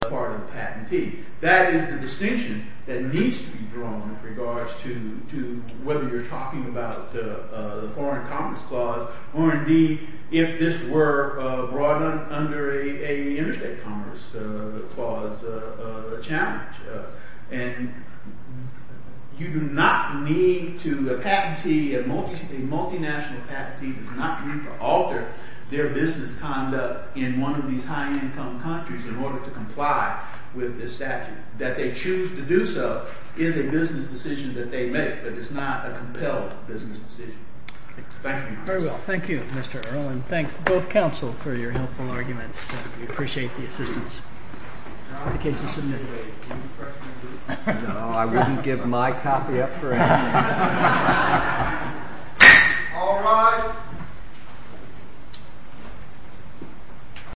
part of the patentee. That is the distinction that needs to be drawn in regards to whether you're talking about the Foreign Commerce Clause or indeed if this were brought under an Interstate Commerce Clause challenge. And you do not need to, a patentee, a multinational patentee does not need to alter their business conduct in one of these high income countries in order to comply with this statute. That they choose to do so is a business decision that they make, but it's not a compelled business decision. Thank you Mr. Earle and thank both counsel for your helpful arguments. We appreciate the assistance. No, I wouldn't give my copy up for anything. All rise.